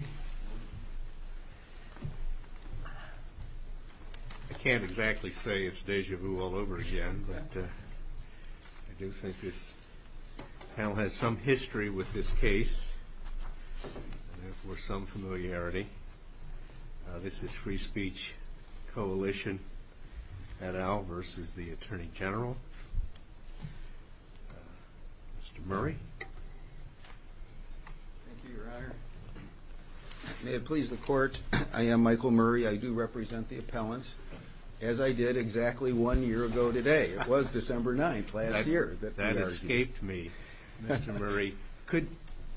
I can't exactly say it's deja vu all over again, but I do think this panel has some history with this case, and therefore some familiarity. This is Free Speech Coalition et al. versus the Attorney General, Mr. Murray. May it please the Court, I am Michael Murray, I do represent the appellants, as I did exactly one year ago today. It was December 9th last year. That escaped me. Mr. Murray, could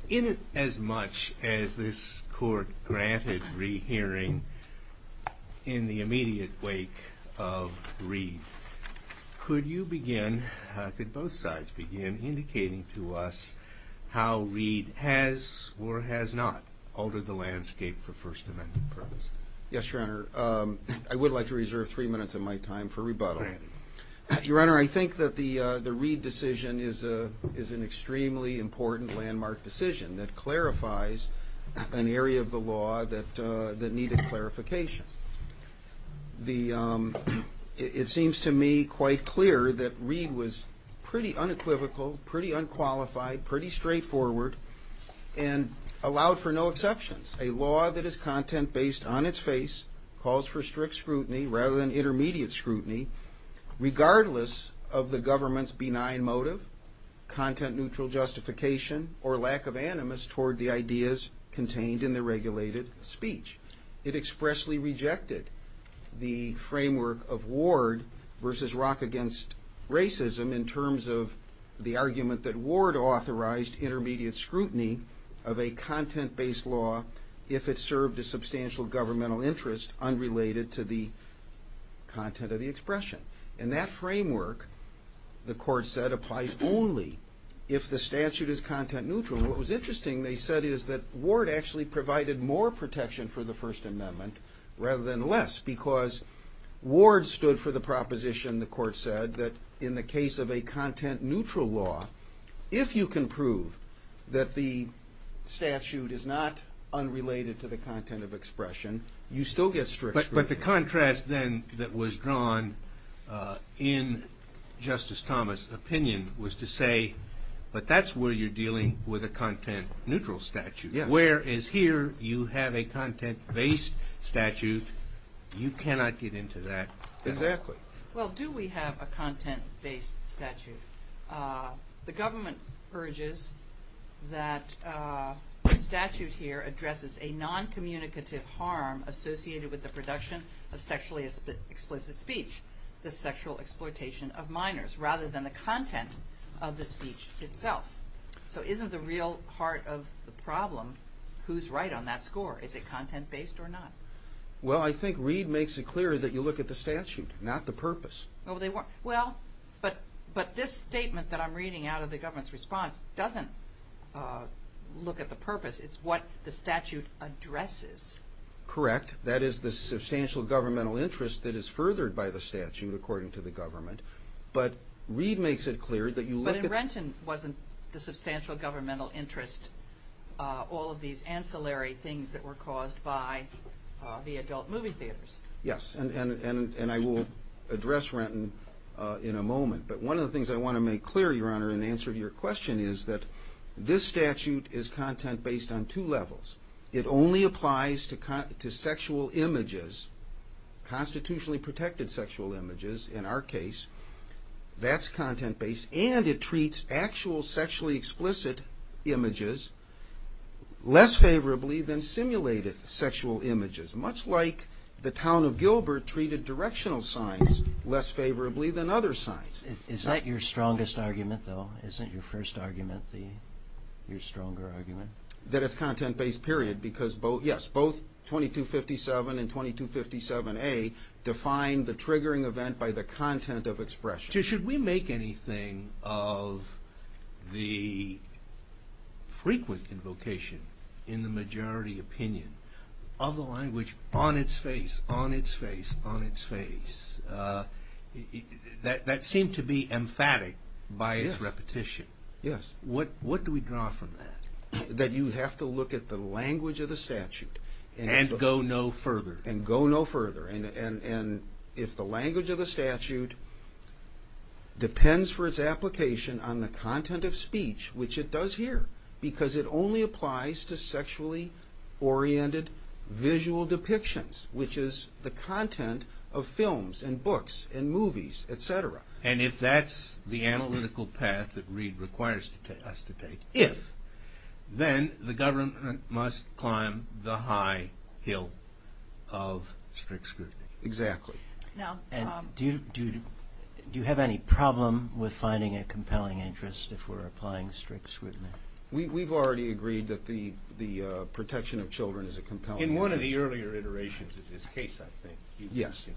in as much as this court granted rehearing in the immediate wake of Reed, could you begin, could both sides begin indicating to us how Reed has or has not altered the landscape for First Amendment purposes? Yes, Your Honor. I would like to reserve three minutes of my time for rebuttal. Your Honor, I think that the the Reed decision is a is an extremely important landmark decision that clarifies an area of the law that that needed clarification. It seems to me quite clear that Reed was pretty unequivocal, pretty unqualified, pretty straightforward, and allowed for no exceptions. A law that is content-based on its face calls for strict scrutiny rather than intermediate scrutiny, regardless of the government's benign motive, content-neutral justification, or lack of animus toward the ideas contained in the regulated speech. It expressly rejected the framework of Ward versus Rock against Racism in terms of the argument that Ward authorized intermediate scrutiny of a content-based law if it served a substantial governmental interest unrelated to the content of the expression. And that framework, the court said, applies only if the statute is content-neutral. What was interesting, they said, is that Ward actually provided more protection for the First Amendment rather than less, because Ward stood for the proposition, the court said, that in the case of a content-neutral law, if you can prove that the statute is not unrelated to the content of expression, you still get strict scrutiny. But the contrast then that was drawn in Justice Thomas' opinion was to say, but that's where you're dealing with a content-neutral statute. Whereas here, you have a content-based statute, you cannot get into that. Exactly. Well, do we have a content-based statute? The government urges that the statute here addresses a non-communicative harm associated with the production of sexually explicit speech, the sexual exploitation of minors, rather than the content of the speech itself. So isn't the real heart of the problem who's right on that score? Is it content-based or not? Well, I think Reed makes it clear that you look at the statute, not the purpose. Well, but this statement that I'm reading out of the government's response doesn't look at the purpose, it's what the statute addresses. Correct. That is the substantial governmental interest that is furthered by the statute, according to the government. But Reed makes it clear that you look at... But in Renton, wasn't the substantial governmental interest all of these ancillary things that were caused by the adult movie theaters? Yes, and I will address Renton in a moment. But one of the things I want to make clear, Your Honor, in answer to your question is that this statute is content-based on two levels. It only applies to sexual images, constitutionally protected sexual images, in our case. That's content-based. And it treats actual sexually explicit images less favorably than simulated sexual images. Much like the town of Gilbert treated directional signs less favorably than other signs. Is that your strongest argument, though? Isn't your first argument your stronger argument? That it's content-based, period, because both, yes, both 2257 and 2257A define the triggering event by the content of expression. Should we make anything of the frequent invocation in the majority opinion of the language on its face, on its face, on its face, that seemed to be emphatic by its repetition? Yes. What do we draw from that? That you have to look at the language of the statute. And go no further. And go no further. And if the language of the statute depends for its application on the content of speech, which it does here, because it only applies to sexually oriented visual depictions, which is the content of speech, if that's the analytical path that Reed requires us to take, if, then the government must climb the high hill of strict scrutiny. Exactly. Do you have any problem with finding a compelling interest if we're applying strict scrutiny? We've already agreed that the protection of children is a compelling interest. In one of the earlier iterations of this case, I just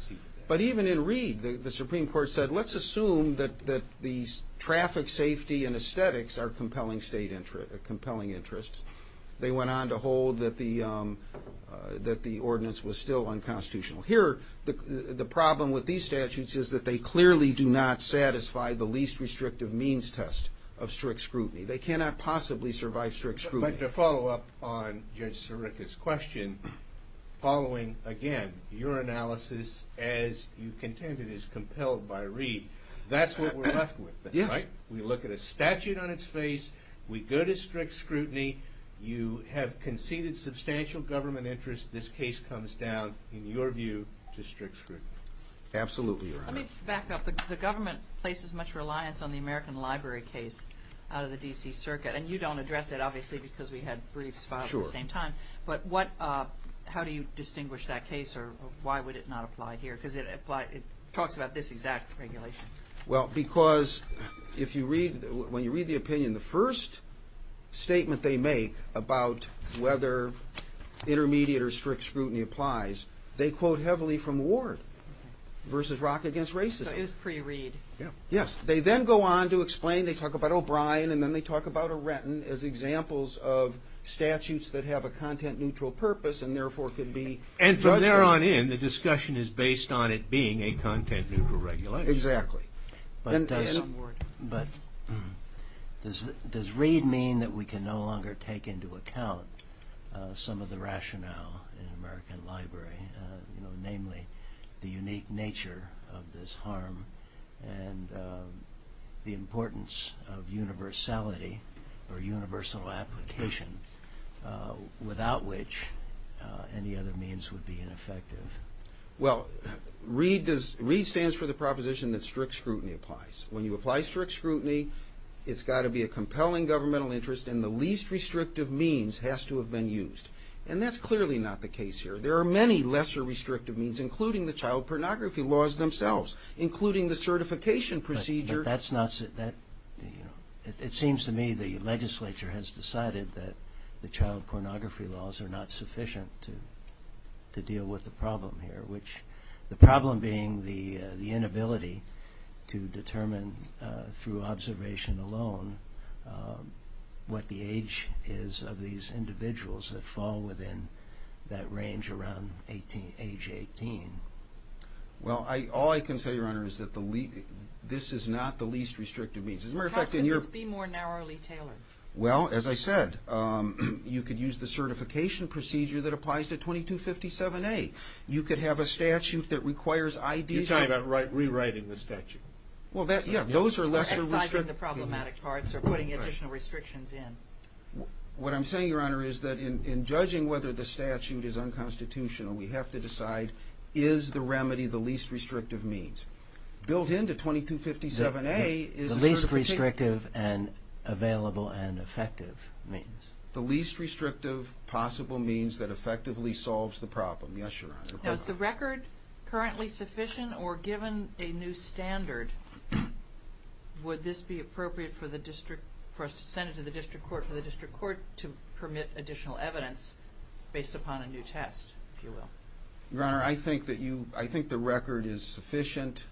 assumed that the traffic safety and aesthetics are compelling interests. They went on to hold that the ordinance was still unconstitutional. Here, the problem with these statutes is that they clearly do not satisfy the least restrictive means test of strict scrutiny. They cannot possibly survive strict scrutiny. But to follow up on Judge Sirica's question, following, again, your analysis as you contended is compelled by Reed, that's what we're left with. Yes. We look at a statute on its face. We go to strict scrutiny. You have conceded substantial government interest. This case comes down, in your view, to strict scrutiny. Absolutely, Your Honor. Let me back up. The government places much reliance on the American Library case out of the D.C. Circuit. And you don't address it, obviously, because we had briefs filed at the same time. But how do you distinguish that case, or why would it not apply here? Because it talks about this exact regulation. Well, because if you read, when you read the opinion, the first statement they make about whether intermediate or strict scrutiny applies, they quote heavily from Ward versus Rock against racism. So it was pre-Reed. Yes. They then go on to explain, they talk about O'Brien, and then they talk about O'Renton as examples of statutes that have a content-neutral purpose, and therefore could be judged. And from there on in, the discussion is based on it being a content-neutral regulation. Exactly. And on Ward. But does Reed mean that we can no longer take into account some of the rationale in the American Library? Namely, the unique nature of this or universal application, without which any other means would be ineffective? Well, Reed stands for the proposition that strict scrutiny applies. When you apply strict scrutiny, it's got to be a compelling governmental interest, and the least restrictive means has to have been used. And that's clearly not the case here. There are many lesser restrictive means, including the child pornography laws themselves, including the certification procedure. But the legislature has decided that the child pornography laws are not sufficient to deal with the problem here, which the problem being the inability to determine through observation alone what the age is of these individuals that fall within that range around age 18. Well, all I can say, Your Honor, is that this is not the least restrictive means. As a matter of fact, it's not. Well, as I said, you could use the certification procedure that applies to 2257A. You could have a statute that requires IDs. You're talking about rewriting the statute. Those are lesser restrictive. Excising the problematic parts or putting additional restrictions in. What I'm saying, Your Honor, is that in judging whether the statute is unconstitutional, we have to decide, is the remedy the least restrictive means? Built into 2257A is a certification procedure. The least restrictive and available and effective means. The least restrictive possible means that effectively solves the problem. Yes, Your Honor. Now, is the record currently sufficient or given a new standard, would this be appropriate for the district court, for us to send it to the district court, for the district court to permit additional evidence based upon a new test, if you will? Your Honor, I think the record is sufficient.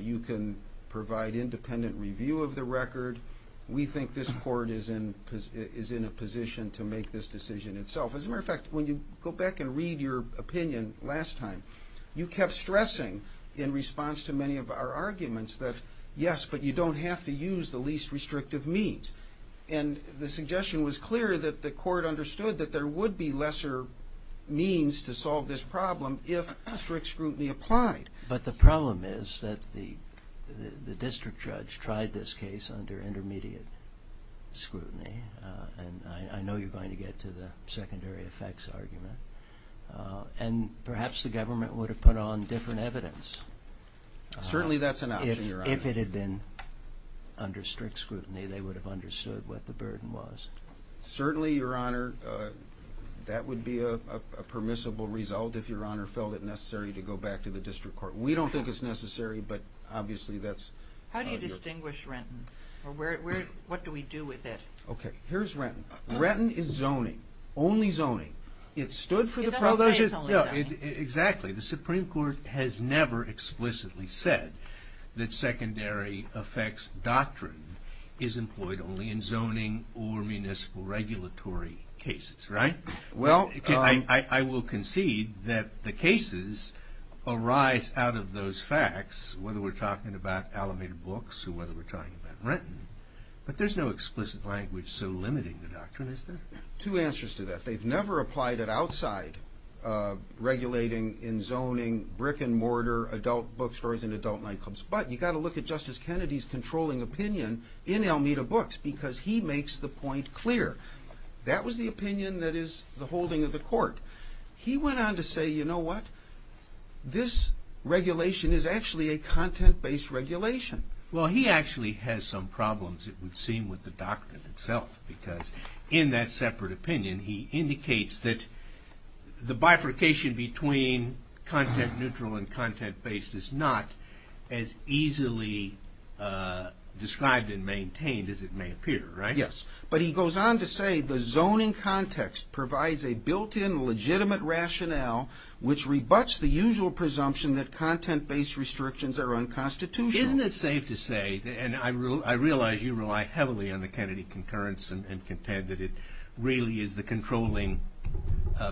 You can provide independent review of the record. We think this court is in a position to make this decision itself. As a matter of fact, when you go back and read your opinion last time, you kept stressing, in response to many of our arguments, that yes, but you don't have to use the least restrictive means. And the suggestion was clear that the court understood that there would be lesser means to solve this problem if strict scrutiny applied. But the problem is that the district judge tried this case under intermediate scrutiny. And I know you're going to get to the secondary effects argument. And perhaps the government would have put on different evidence. Certainly that's an option, Your Honor. If it had been under strict scrutiny, they would have understood what the burden was. Certainly, Your Honor, that would be a permissible result if Your Honor felt it necessary to go back to the district court. We don't think it's necessary, but obviously that's Your Honor. How do you distinguish Renton? Or what do we do with it? Okay, here's Renton. Renton is zoning, only zoning. It stood for the prology. It doesn't say it's only zoning. Exactly. The Supreme Court has never explicitly said that secondary effects doctrine is employed only in zoning or municipal regulatory cases, right? Well- I will concede that the cases arise out of those facts, whether we're talking about Alameda books or whether we're talking about Renton. But there's no explicit language so limiting the doctrine, is there? Two answers to that. They've never applied it outside regulating in zoning brick and mortar adult bookstores and adult nightclubs. But you've got to look at Justice Kennedy's controlling opinion in Alameda books, because he makes the point clear. That was the opinion that is the holding of the court. He went on to say, you know what? This regulation is actually a content-based regulation. Well, he actually has some problems, it would seem, with the doctrine itself. Because in that separate opinion, he indicates that the bifurcation between content-neutral and content-based is not as easily described and maintained as it may appear, right? Yes. But he goes on to say the zoning context provides a built-in legitimate rationale which rebuts the usual presumption that content-based restrictions are unconstitutional. Isn't it safe to say, and I realize you rely heavily on the Kennedy concurrence and contend that it really is the controlling,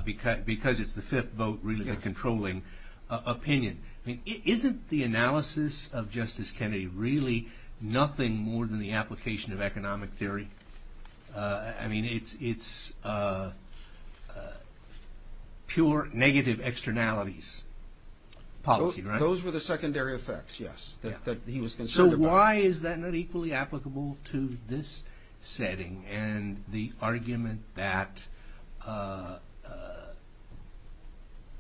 because it's the fifth vote, really the controlling opinion. Isn't the analysis of Justice Kennedy really nothing more than the application of I mean, it's pure negative externalities policy, right? Those were the secondary effects, yes, that he was concerned about. So why is that not equally applicable to this setting and the argument that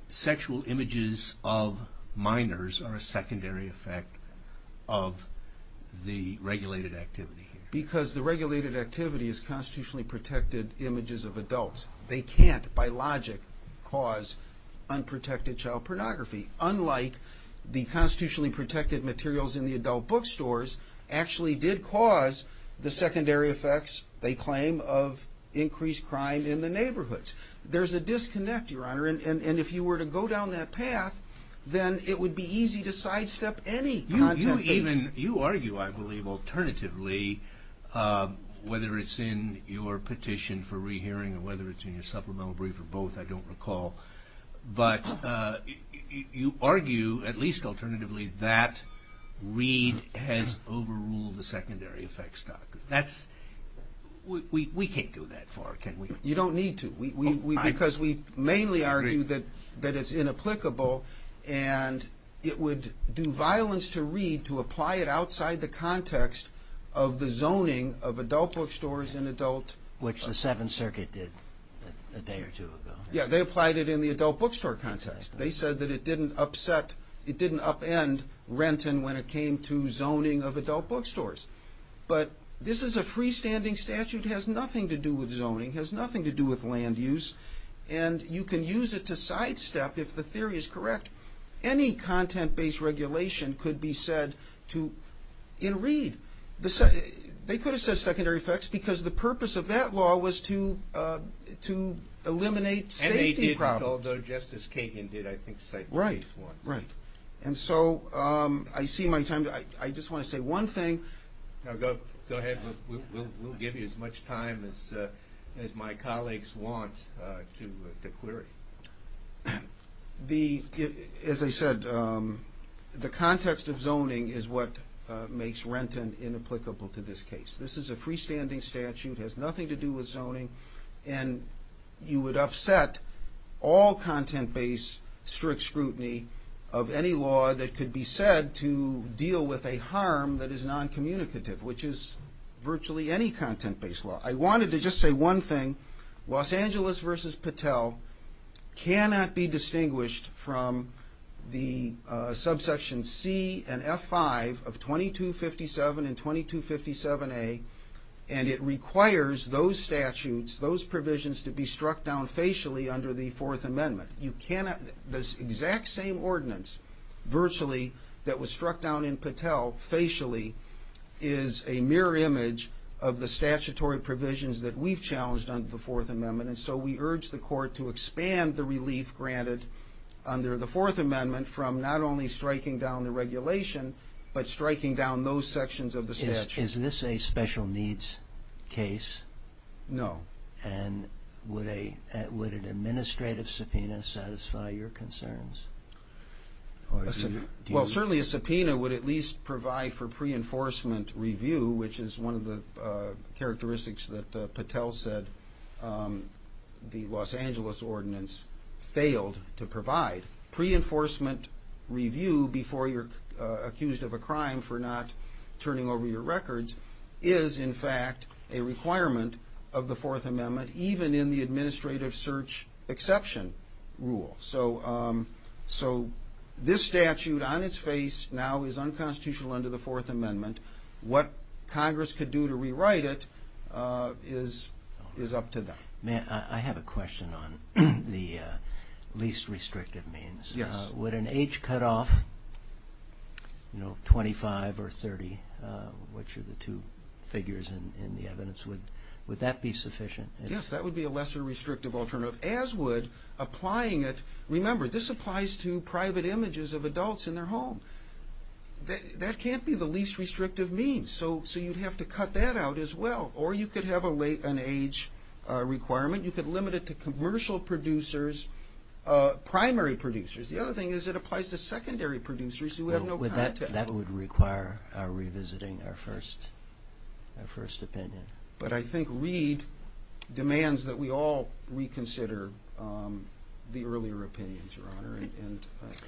sexual images of minors are a secondary effect of the regulated activity? Because the regulated activity is constitutionally protected images of adults. They can't, by logic, cause unprotected child pornography, unlike the constitutionally protected materials in the adult bookstores actually did cause the secondary effects, they claim, of increased crime in the neighborhoods. There's a disconnect, Your Honor, and if you were to go down that path, then it would be easy to sidestep any content-based... You argue, I believe, alternatively, whether it's in your petition for rehearing or whether it's in your supplemental brief or both, I don't recall, but you argue at least alternatively that Reed has overruled the secondary effects doctrine. We can't go that far, can we? You don't need to, because we mainly argue that it's inapplicable and it would do violence to Reed to apply it outside the context of the zoning of adult bookstores in adult... Which the Seventh Circuit did a day or two ago. Yeah, they applied it in the adult bookstore context. They said that it didn't upend Renton when it came to zoning of adult bookstores. But this is a freestanding statute, has nothing to do with zoning, has nothing to do with land use, and you can use it to sidestep, if the theory is correct, any content-based regulation could be said to... in Reed. They could have said secondary effects because the purpose of that law was to eliminate safety problems. And they did, although Justice Kagan did, I think, cite the case once. And so I see my time... I just want to say one thing... Go ahead. We'll give you as much time as my colleagues want to query. The... as I said, the context of zoning is what makes Renton inapplicable to this case. This is a freestanding statute, has nothing to do with zoning, and you would upset all content-based strict scrutiny of any law that could be said to deal with a harm that is non-communicative, which is virtually any content-based law. I wanted to just say one thing. Los Angeles v. Patel cannot be distinguished from the subsection C and F5 of 2257 and 2257A, and it requires those statutes, those provisions to be struck down facially under the Fourth Amendment. You cannot... this exact same ordinance, virtually, that was struck down in Patel facially is a mirror image of the statutory provisions that we've challenged under the Fourth Amendment. And so we urge the Court to expand the relief granted under the Fourth Amendment from not only striking down the regulation, but striking down those sections of the statute. Is this a special needs case? No. And would an administrative subpoena satisfy your concerns? Well, certainly a subpoena would at least provide for pre-enforcement review, which is one of the characteristics that Patel said the Los Angeles ordinance failed to provide. Pre-enforcement review before you're accused of a crime for not turning over your records is in fact a requirement of the Fourth Amendment, even in the administrative search exception rule. So this statute, on its face, now is unconstitutional under the Fourth Amendment. What Congress could do to rewrite it is up to them. May I have a question on the least restrictive means? Yes. Would an age cutoff, you know, 25 or 30, which are the two figures in the evidence, would that be sufficient? Yes, that would be a lesser restrictive alternative, as would applying it. Remember, this applies to private images of adults in their home. That can't be the least restrictive means, so you'd have to cut that out as well. Or you could have an age requirement. You could limit it to commercial producers, primary producers. The other thing is it applies to secondary producers who have no contact. That would require revisiting our first opinion. But I think Reid demands that we all reconsider the earlier opinions, Your Honor,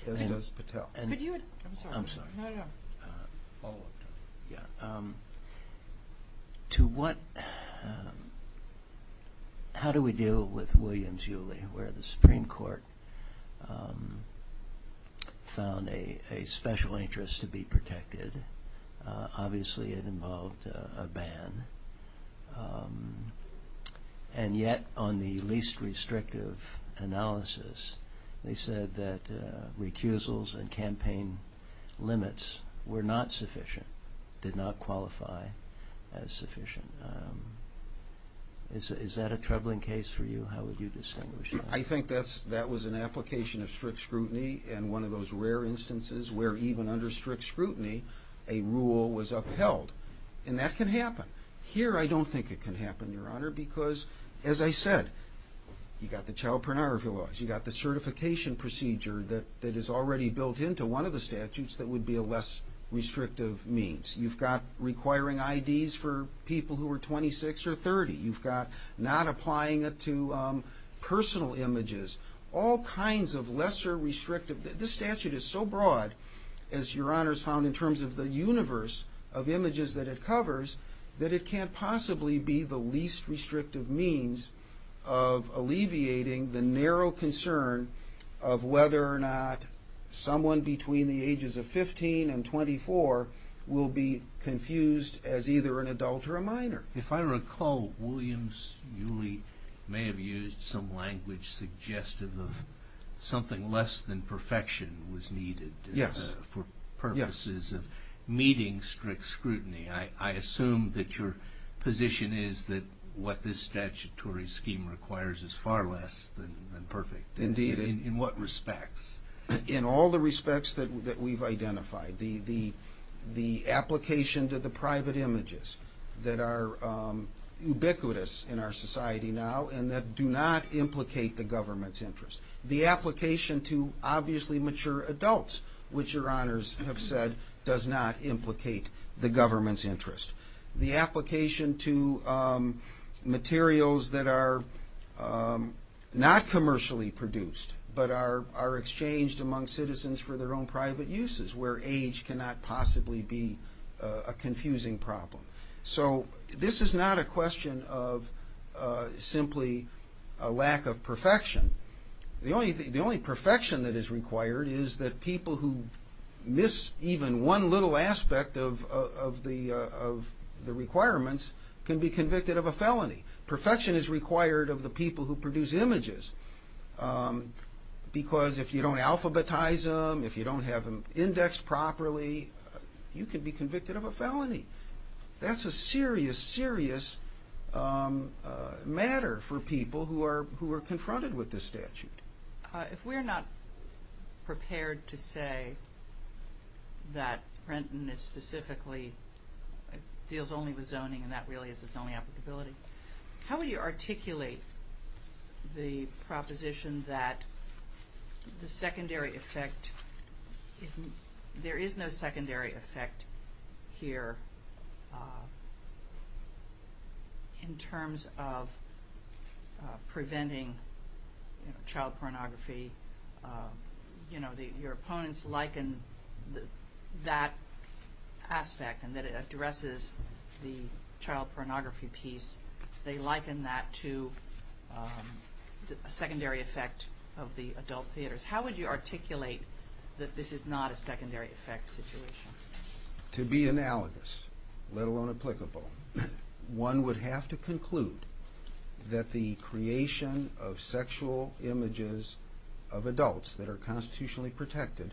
as does Patel. Could you – I'm sorry. No, no. Yeah. To what – how do we deal with Williams-Uly, where the Supreme Court found a special interest to be protected? Obviously, it involved a ban. And yet, on the least restrictive analysis, they said that recusals and campaign limits were not sufficient, did not qualify as sufficient. Is that a troubling case for you? How would you distinguish that? I think that's – that was an application of strict scrutiny, and one of those rare instances where even under strict scrutiny, a rule was upheld. And that can happen. Here, I don't think it can happen, Your Honor, because, as I said, you've got the child pornography laws. You've got the certification procedure that is already built into one of the statutes that would be a less restrictive means. You've got requiring IDs for people who are 26 or 30. You've got not applying it to personal images. All kinds of lesser restrictive – this statute is so broad, as Your Honor's found in terms of the universe of images that it covers, that it can't possibly be the least restrictive means of alleviating the narrow concern of whether or not someone between the ages of 15 and 24 will be confused as either an adult or a minor. If I recall, Williams-Uly may have used some language suggestive of something less than perfection was needed for purposes of meeting strict scrutiny. I assume that your position is that what this statutory scheme requires is far less than perfect. Indeed. In what respects? In all the respects that we've identified. The application to the private images that are ubiquitous in our society now and that do not implicate the government's interest. The application to obviously mature adults, which Your Honors have said does not implicate the government's interest. The application to materials that are not commercially produced but are exchanged among citizens for their own private uses where age cannot possibly be a confusing problem. So this is not a question of simply a lack of perfection. The only perfection that is required is that people who miss even one little aspect of the requirements can be convicted of a felony. Perfection is required of the people who produce images because if you don't alphabetize them, if you don't have them indexed properly, you can be convicted of a felony. That's a serious, serious matter for people who are confronted with this statute. If we're not prepared to say that Renton is specifically, deals only with zoning and that really is its only applicability, how would you articulate the proposition that the secondary effect, there is no secondary effect here in terms of preventing child pornography. Your opponents liken that aspect and that it addresses the child pornography piece, they liken that to a secondary effect of the adult theaters. How would you articulate that this is not a secondary effect situation? To be analogous, let alone applicable, one would have to conclude that the creation of sexual images of adults that are constitutionally protected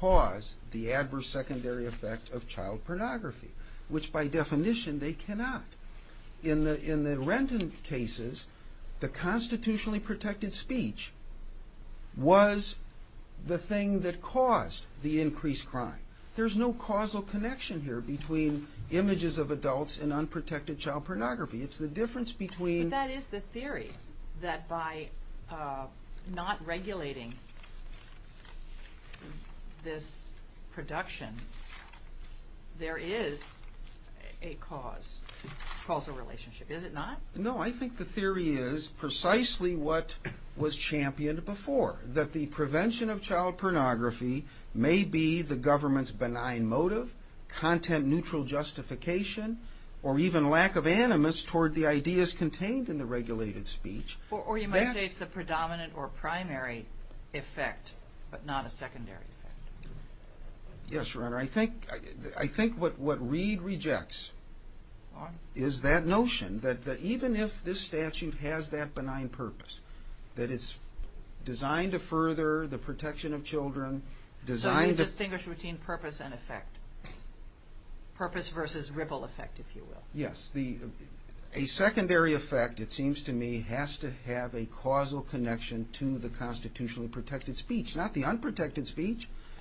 cause the adverse secondary effect of child pornography, which by definition they cannot. In the Renton cases, the constitutionally protected speech was the thing that caused the increased crime. There's no causal connection here between images of adults and unprotected child pornography. It's the difference between But that is the theory, that by not regulating this production of sexual images of adults there is a cause, a causal relationship. Is it not? No, I think the theory is precisely what was championed before, that the prevention of child pornography may be the government's benign motive, content neutral justification, or even lack of animus toward the ideas contained in the regulated speech. Or you might say it's the predominant or primary effect, but not a secondary effect. Yes, Your Honor. I think what Reid rejects is that notion that even if this statute has that benign purpose, that it's designed to further the protection of children, designed So you distinguish between purpose and effect. Purpose versus ripple effect, if you will. Yes. A secondary effect, it seems to me, has to have a causal connection to the constitutionally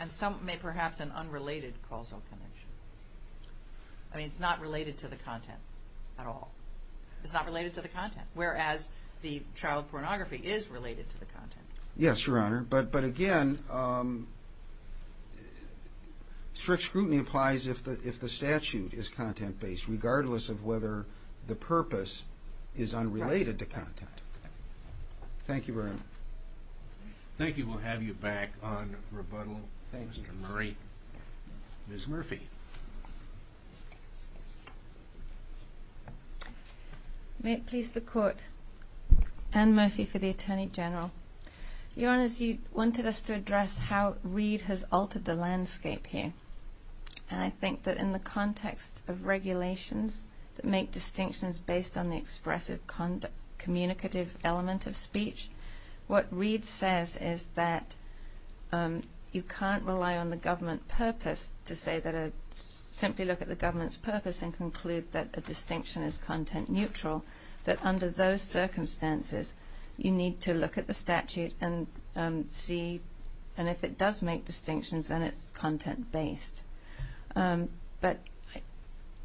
Some may perhaps an unrelated causal connection. I mean, it's not related to the content at all. It's not related to the content, whereas the child pornography is related to the content. Yes, Your Honor. But again, strict scrutiny applies if the statute is content-based, regardless of whether the purpose is unrelated to content. Thank you very much. Thank you. We'll have you back on rebuttal. Thank you, Mr. Murray. Ms. Murphy. May it please the Court, Anne Murphy for the Attorney General. Your Honors, you wanted us to address how Reid has altered the landscape here. And I think that in the context of regulations that make distinctions based on the expressive communicative element of speech, what Reid says is that you can't rely on the government purpose to say that a simply look at the government's purpose and conclude that a distinction is content-neutral, that under those circumstances you need to look at the statute and see, and if it does make distinctions, then it's content-based. But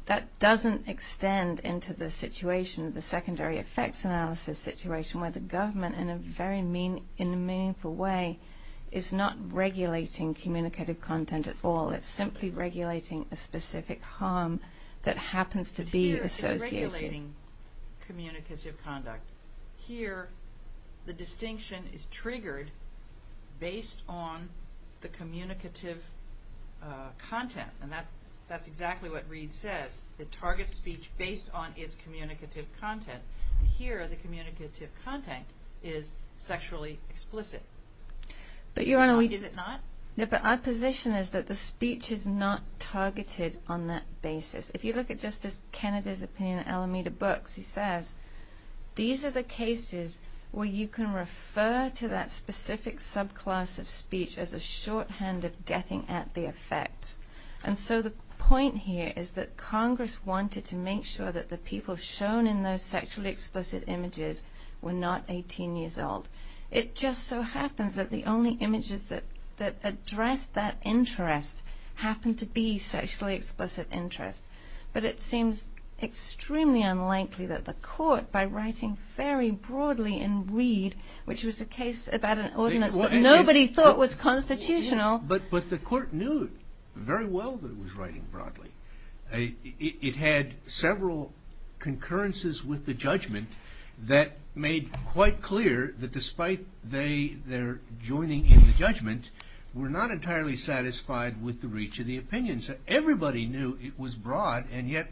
that doesn't extend into the situation, the secondary effects analysis situation where the government, in a very meaningful way, is not regulating communicative content at all. It's simply regulating a specific harm that happens to be associated. But here it's regulating communicative conduct. Here the distinction is triggered based on the communicative content. And that's exactly what Reid says. It targets speech based on its communicative content. And here the communicative content is sexually explicit. Is it not? But Your Honor, our position is that the speech is not targeted on that basis. If you look at Justice Kennedy's opinion in Alameda Books, he says, these are the cases where you can get the effect. And so the point here is that Congress wanted to make sure that the people shown in those sexually explicit images were not 18 years old. It just so happens that the only images that address that interest happen to be sexually explicit interest. But it seems extremely unlikely that the court, by writing very broadly in Reid, which was a case about an ordinance that nobody thought was constitutional. But the court knew very well that it was writing broadly. It had several concurrences with the judgment that made quite clear that despite their joining in the judgment, were not entirely satisfied with the reach of the opinion. So everybody knew it was broad, and yet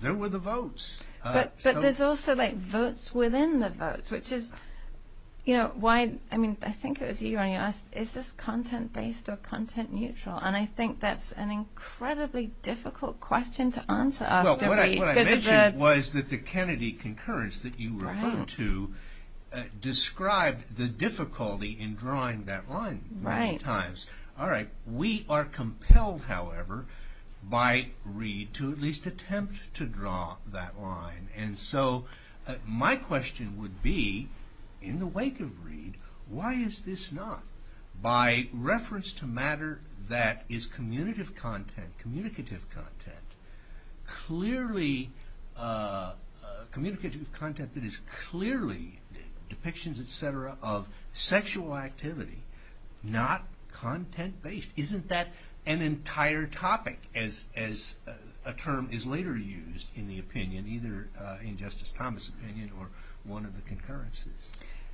there were the votes. But there's also like votes within the votes, which is, you know, why, I mean, I think it was you, Your Honor, who asked, is this content-based or content-neutral? And I think that's an incredibly difficult question to answer after Reid. Well, what I mentioned was that the Kennedy concurrence that you referred to described the difficulty in drawing that line many times. All right. We are compelled, however, by Reid to at least attempt to draw that line. And so my question would be, in the wake of Reid, why is this not, by reference to matter that is communicative content, clearly, communicative content that is clearly depictions, et cetera, of sexual activity, not content-based. Isn't that an entire topic, as a term is later used in the opinion, either in Justice Thomas' opinion or one of the concurrences?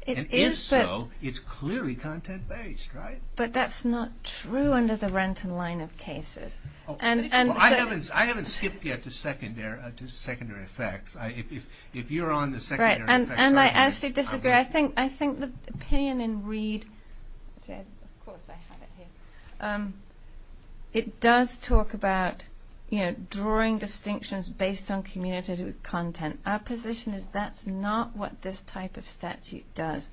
And if so, it's clearly content-based, right? But that's not true under the Renton line of cases. I haven't skipped yet to secondary effects. If you're on the secondary effects... And I actually disagree. I think the opinion in Reid, of course I have it here, it does talk about, you know, drawing distinctions based on communicative content. Our position is that's not what this type of statute does.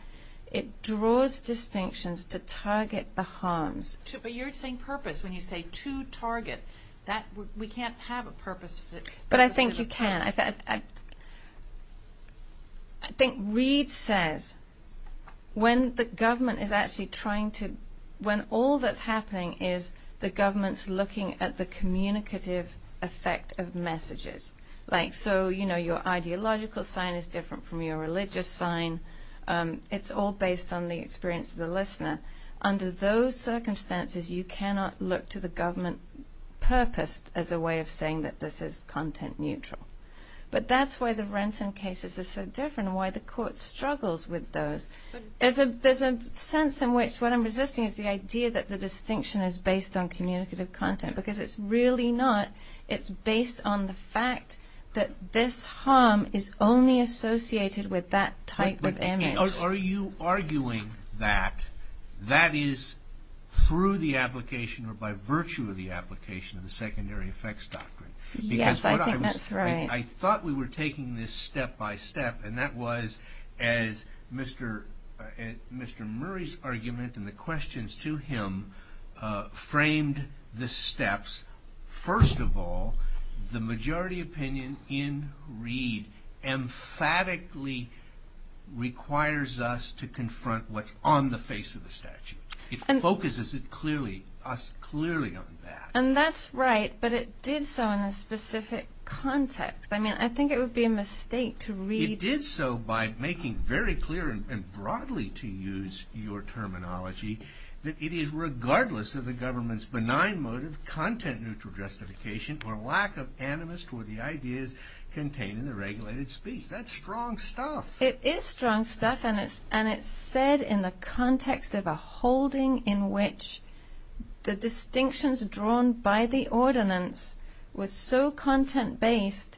It draws distinctions to target the harms. But you're saying purpose. When you say to target, we can't have a purpose... But I think you can. I think Reid says, when the government is actually trying to, when all that's happening is the government's looking at the communicative effect of messages, like so, you know, your ideological sign is different from your religious sign. It's all based on the experience of the listener. Under those circumstances, you cannot look to the government purposed as a way of saying that this is content neutral. But that's why the Renton cases are so different and why the court struggles with those. There's a sense in which what I'm resisting is the idea that the distinction is based on communicative content, because it's really not. It's based on the fact that this harm is only associated with that type of image. Are you arguing that that is through the application or by virtue of the application of the secondary effects doctrine? Yes, I think that's right. I thought we were taking this step by step, and that was as Mr. Murray's argument and the questions to him framed the steps. First of all, the majority opinion in Reid emphatically requires us to confront what's on the face of the statute. It focuses us clearly on that. And that's right, but it did so in a specific context. I mean, I think it would be a mistake to read... It did so by making very clear and broadly, to use your terminology, that it is regardless of the government's benign motive, content neutral justification, or lack of animus toward the ideas contained in the regulated speech. That's strong stuff. It is strong stuff, and it's said in the context of a holding in which the distinctions drawn by the ordinance was so content-based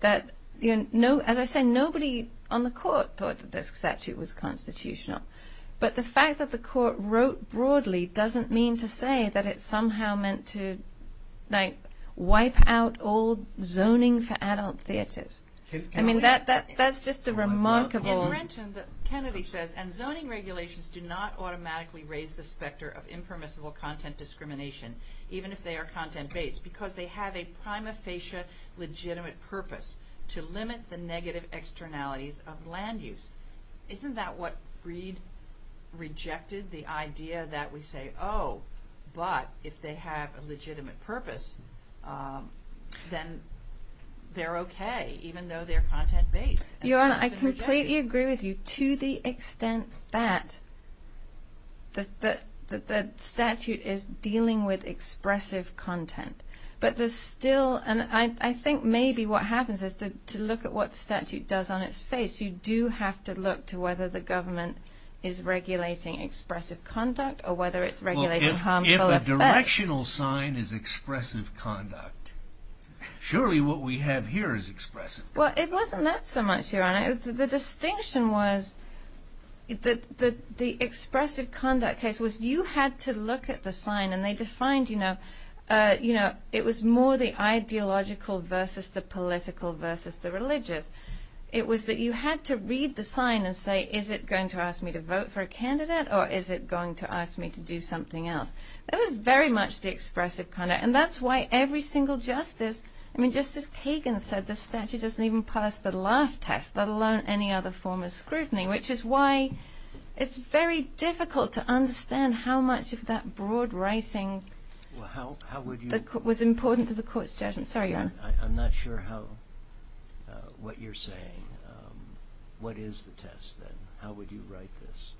that, as I say, nobody on the court thought that this statute was constitutional. But the fact that the court wrote broadly doesn't mean to say that it's somehow meant to wipe out all zoning for adult theaters. I mean, that's just a remarkable... In Brenton, Kennedy says, and zoning regulations do not automatically raise the specter of impermissible content discrimination, even if they are content-based, because they have a prima facie legitimate purpose, to limit the negative externalities of land use. Isn't that what Reid rejected, the idea that we say, oh, but if they have a legitimate purpose, then they're okay, even though they're content-based? Your Honor, I completely agree with you, to the extent that the statute is dealing with expressive content. But there's still, and I think maybe what happens is to look at what whether the government is regulating expressive conduct, or whether it's regulating harmful effects. Well, if a directional sign is expressive conduct, surely what we have here is expressive conduct. Well, it wasn't that so much, Your Honor. The distinction was that the expressive conduct case was you had to look at the sign, and they defined, you know, it was more the ideological versus the political versus the religious. It was that you had to read the sign and say, is it going to ask me to vote for a candidate, or is it going to ask me to do something else? That was very much the expressive conduct, and that's why every single justice, I mean, Justice Kagan said the statute doesn't even pass the laugh test, let alone any other form of scrutiny, which is why it's very difficult to understand how much of that broad writing was important to the court's judgment. Sorry, Your Honor. I'm not sure what you're saying. What is the test, then? How would you write this?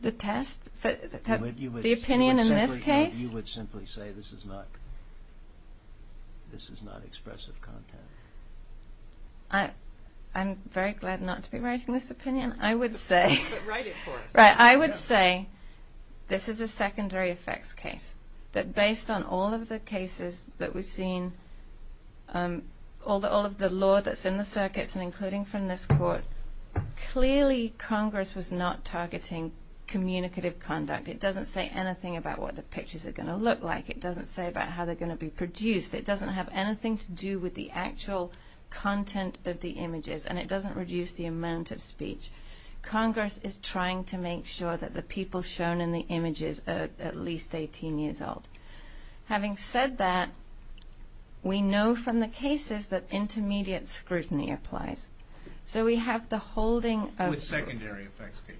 The test? The opinion in this case? You would simply say this is not expressive content. I'm very glad not to be writing this opinion. I would say... But write it for us. I would say this is a secondary effects case, that based on all of the cases that we've seen, all of the law that's in the circuits and including from this court, clearly Congress was not targeting communicative conduct. It doesn't say anything about what the pictures are going to look like. It doesn't say about how they're going to be produced. It doesn't have anything to do with the actual content of the images, and it doesn't reduce the amount of speech. Congress is trying to make sure that the people shown in the images are at least 18 years old. Having said that, we know from the cases that intermediate scrutiny applies. So we have the holding of... The secondary effects case.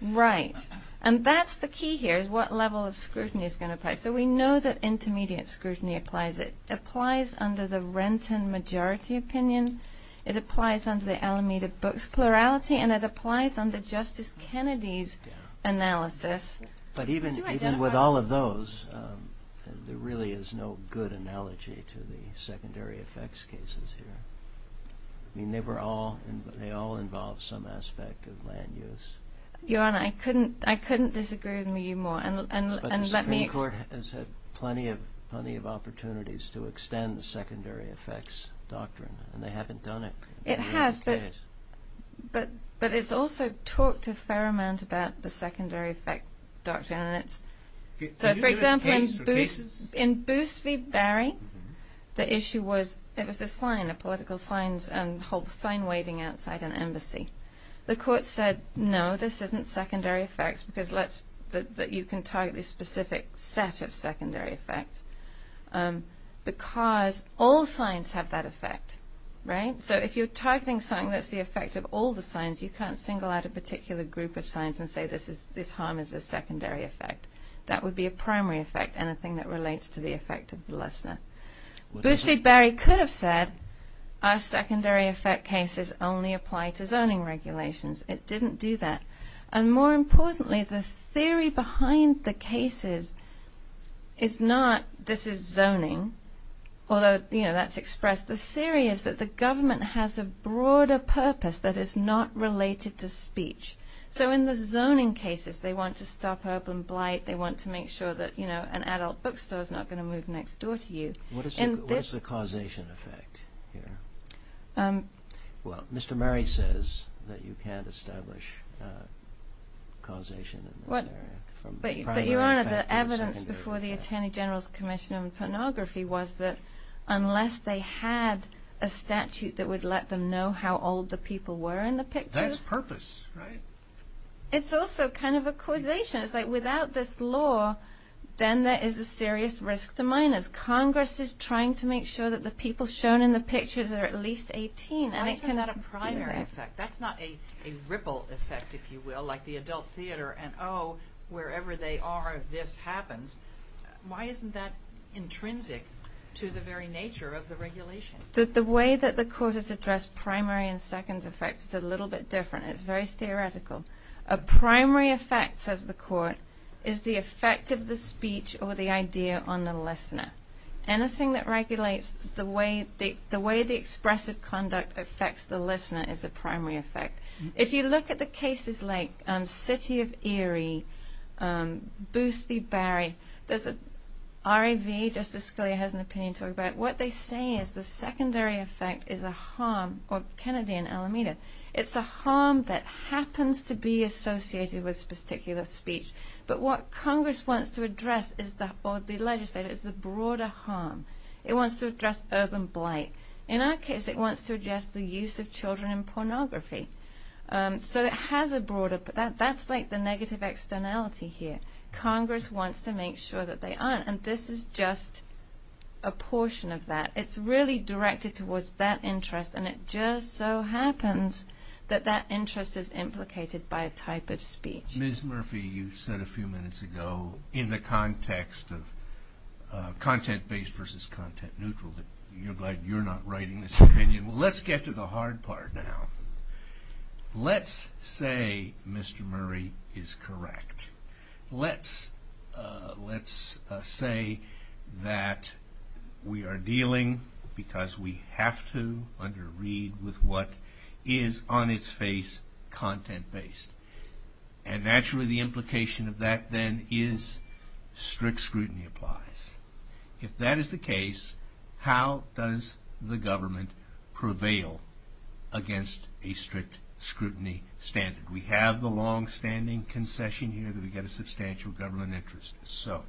Right. And that's the key here, is what level of scrutiny is going to apply. So we know that intermediate scrutiny applies. It applies under the Renton majority opinion. It applies under the Alameda Books plurality, and it applies under Justice Kennedy's analysis. But even with all of those, there really is no good analogy to the secondary effects cases here. I mean, they all involve some aspect of land use. Your Honor, I couldn't disagree with you more. But the Supreme Court has had plenty of opportunities to extend the secondary effects doctrine, and they haven't done it. It has, but it's also talked a fair amount about the secondary effect doctrine. So for example, in Boos v. Barry, the issue was, it was a sign, a political sign waving outside an embassy. The court said, no, this isn't secondary effects, because you can target this specific set of secondary effects, because all signs have that effect, right? So if you're targeting something that's the effect of all the signs, you can't single out a particular group of signs and say this harm is a secondary effect. That would be a primary effect, anything that relates to the effect of the lessor. Boos v. Barry could have said, our secondary effect cases only apply to zoning regulations. It didn't do that. And more importantly, the theory behind the cases is not, this is zoning, although that's expressed. The theory is that the government has a broader purpose that is not related to speech. So in the zoning cases, they want to stop urban blight, they want to make sure that an adult bookstore is not going to move next door to you. What is the causation effect here? Well, Mr. Murray says that you can't establish causation in this area. But Your Honor, the evidence before the Attorney General's Commission on Pornography was that unless they had a statute that would let them know how old the people were in the pictures. That's purpose, right? It's also kind of a causation. It's like without this law, then there is a serious risk to minors. Congress is trying to make sure that the people shown in the pictures are at least 18. Why is that a primary effect? That's not a ripple effect, if you will, like the adult theater and oh, wherever they are, this happens. Why isn't that intrinsic to the very nature of the regulation? The way that the court has addressed primary and second effects is a little bit different. It's very theoretical. A primary effect, says the court, is the effect of the speech or the idea on the listener. Anything that regulates the way the expressive conduct affects the listener is a primary effect. If you look at the cases like City of Erie, Boost v. Barry, there's an RAV, Justice Scalia has an opinion to talk about. What they say is the secondary effect is a harm, or Kennedy and Alameda, it's a harm that happens to be associated with a particular speech. But what Congress wants to address, or the legislature, is the broader harm. It wants to address urban blight. In our case, it wants to address the use of children in pornography. So it has a broader, that's like the negative externality here. Congress wants to make sure that they aren't, and this is just a portion of that. It's really directed towards that interest, and it just so happens that that interest is implicated by a type of speech. Ms. Murphy, you said a few minutes ago, in the context of content-based versus content-neutral, that you're glad you're not writing this opinion. Let's get to the hard part now. Let's say Mr. Murray is correct. Let's say that we are dealing, because we have to under read, with what is on its face content-based, and naturally the implication of that then is strict scrutiny applies. If that is the case, how does the government prevail against a strict scrutiny standard? We have the longstanding concession here that we get a substantial government interest. So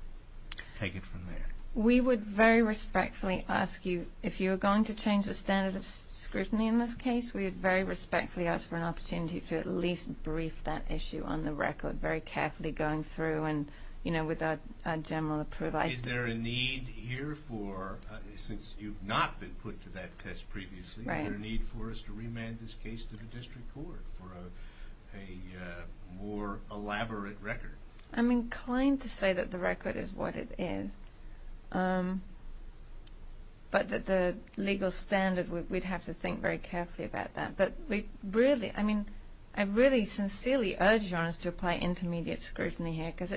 take it from there. We would very respectfully ask you, if you are going to change the standard of scrutiny in this case, we would very respectfully ask for an opportunity to at least brief that issue on the record, very carefully going through and, you know, with our general approval. Is there a need here for, since you've not been put to that test previously, is there a need for us to remand this case to the district court for a more elaborate record? I'm inclined to say that the record is what it is, but that the legal standard, we'd have to think very carefully about that. But we really, I mean, I really sincerely urge Your Honor to apply intermediate scrutiny here, because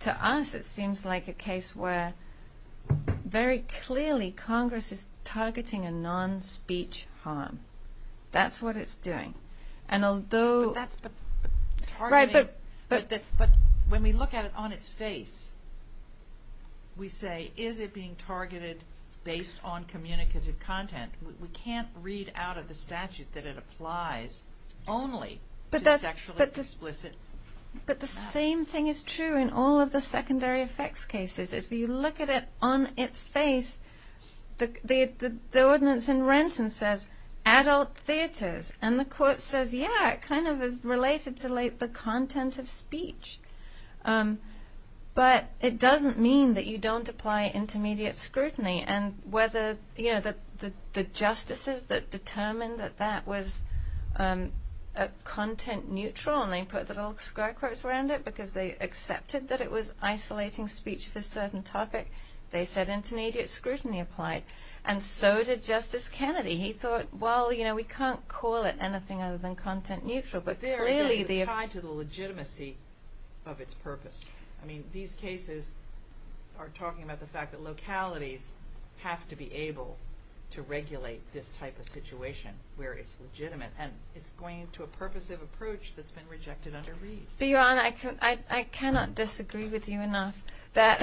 to us it seems like a case where, very clearly, Congress is targeting a non-speech harm. That's what it's doing. And although... But when we look at it on its face, we say, is it being targeted based on communicative content? We can't read out of the statute that it applies only to sexually explicit... But the same thing is true in all of the secondary effects cases. If you look at it on its face, the ordinance in Renton says adult theaters, and the court says, yeah, it kind of is related to the content of speech. But it doesn't mean that you don't apply intermediate scrutiny, and whether, you know, the justices that determined that that was content neutral, and they put the little sky quotes around it, because they accepted that it was isolating speech for a certain topic, they said intermediate scrutiny applied. And so did Justice Kennedy. He thought, well, you know, we can't call it anything other than content neutral. But there it is tied to the legitimacy of its purpose. I mean, these cases are talking about the fact that localities have to be able to regulate this type of situation where it's legitimate. And it's going to a purposive approach that's been rejected under Reed. Bjorn, I cannot disagree with you enough that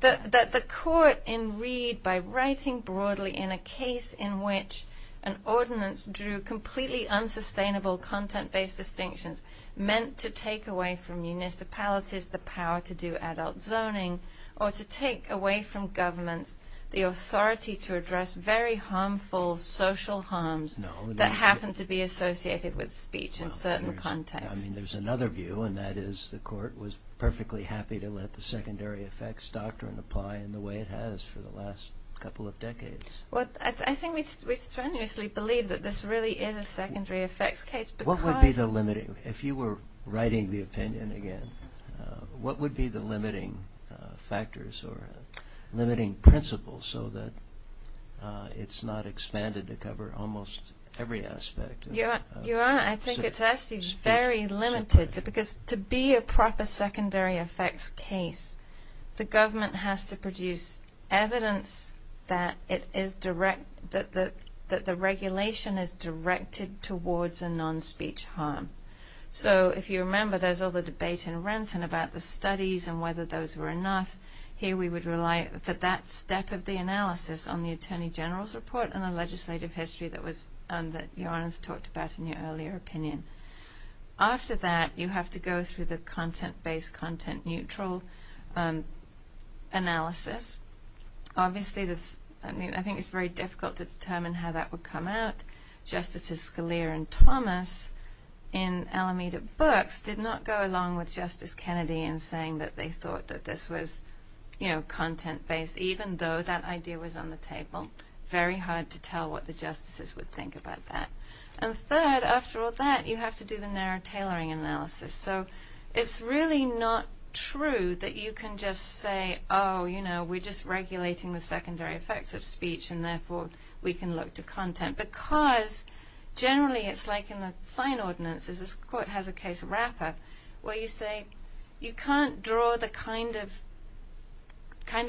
the court in Reed, by writing broadly in a case in which an ordinance drew completely unsustainable content-based distinctions meant to take away from municipalities the power to do adult zoning, or to take away from governments the authority to address very harmful social harms that happen to be associated with speech in certain contexts. I mean, there's another view, and that is the court was perfectly happy to let the secondary effects doctrine apply in the way it has for the last couple of decades. Well, I think we strenuously believe that this really is a secondary effects case. What would be the limiting, if you were writing the opinion again, what would be the limiting factors or limiting principles so that it's not expanded to cover almost every aspect of speech? Your Honor, I think it's actually very limited, because to be a proper secondary effects case, the government has to produce evidence that the regulation is directed towards a non-speech harm. So if you remember, there's all the debate in Renton about the studies and whether those were enough. Here we would rely for that step of the analysis on the Attorney General's report and the legislative history that Your Honor's talked about in your earlier opinion. After that, you have to go through the content-based, content-neutral analysis. Obviously, I think it's very difficult to determine how that would come out. Justices Scalia and Thomas in Alameda Books did not go along with Justice Kennedy in saying that they thought that this was content-based, even though that idea was on the table. Very hard to tell what the justices would think about that. And third, after all that, you have to do the narrow tailoring analysis. So it's really not true that you can just say, oh, you know, we're just regulating the secondary effects of speech and therefore we can look to content. Because generally it's like in the sign ordinances. This court has a case wrapper where you say you can't draw the kind of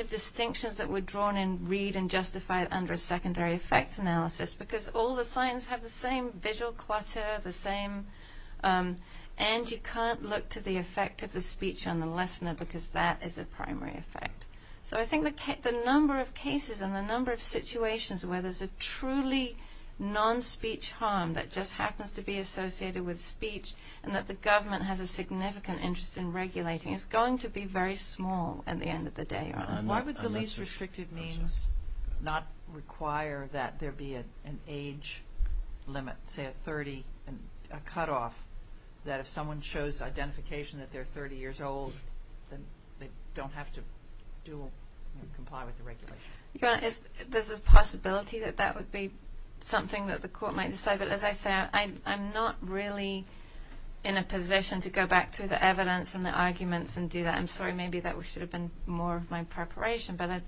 distinctions that were drawn in, read, and justified under a secondary effects analysis because all the signs have the same visual clutter, the same, and you can't look to the effect of the speech on the listener because that is a primary effect. So I think the number of cases and the number of situations where there's a truly non-speech harm that just happens to be associated with speech and that the government has a significant interest in regulating is going to be very small at the end of the day. Why would the least restricted means not require that there be an age limit, say a 30, a cutoff that if someone shows identification that they're 30 years old, then they don't have to comply with the regulation? There's a possibility that that would be something that the court might decide, but as I say, I'm not really in a position to go back to the evidence and the arguments and do that. I'm sorry, maybe that should have been more of my preparation, but our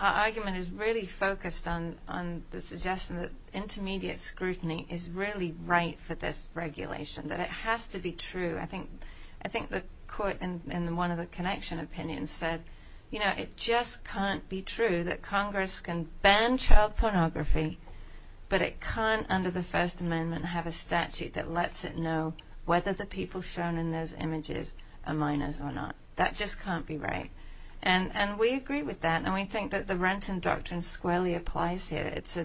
argument is really focused on the suggestion that intermediate scrutiny is really right for this regulation, that it has to be true. I think the court in one of the connection opinions said, you know, it just can't be true that Congress can ban child pornography, but it can't under the First Amendment have a statute that lets it know whether the people shown in those images are minors or not. That just can't be right. And we agree with that, and we think that the Renton Doctrine squarely applies here. It's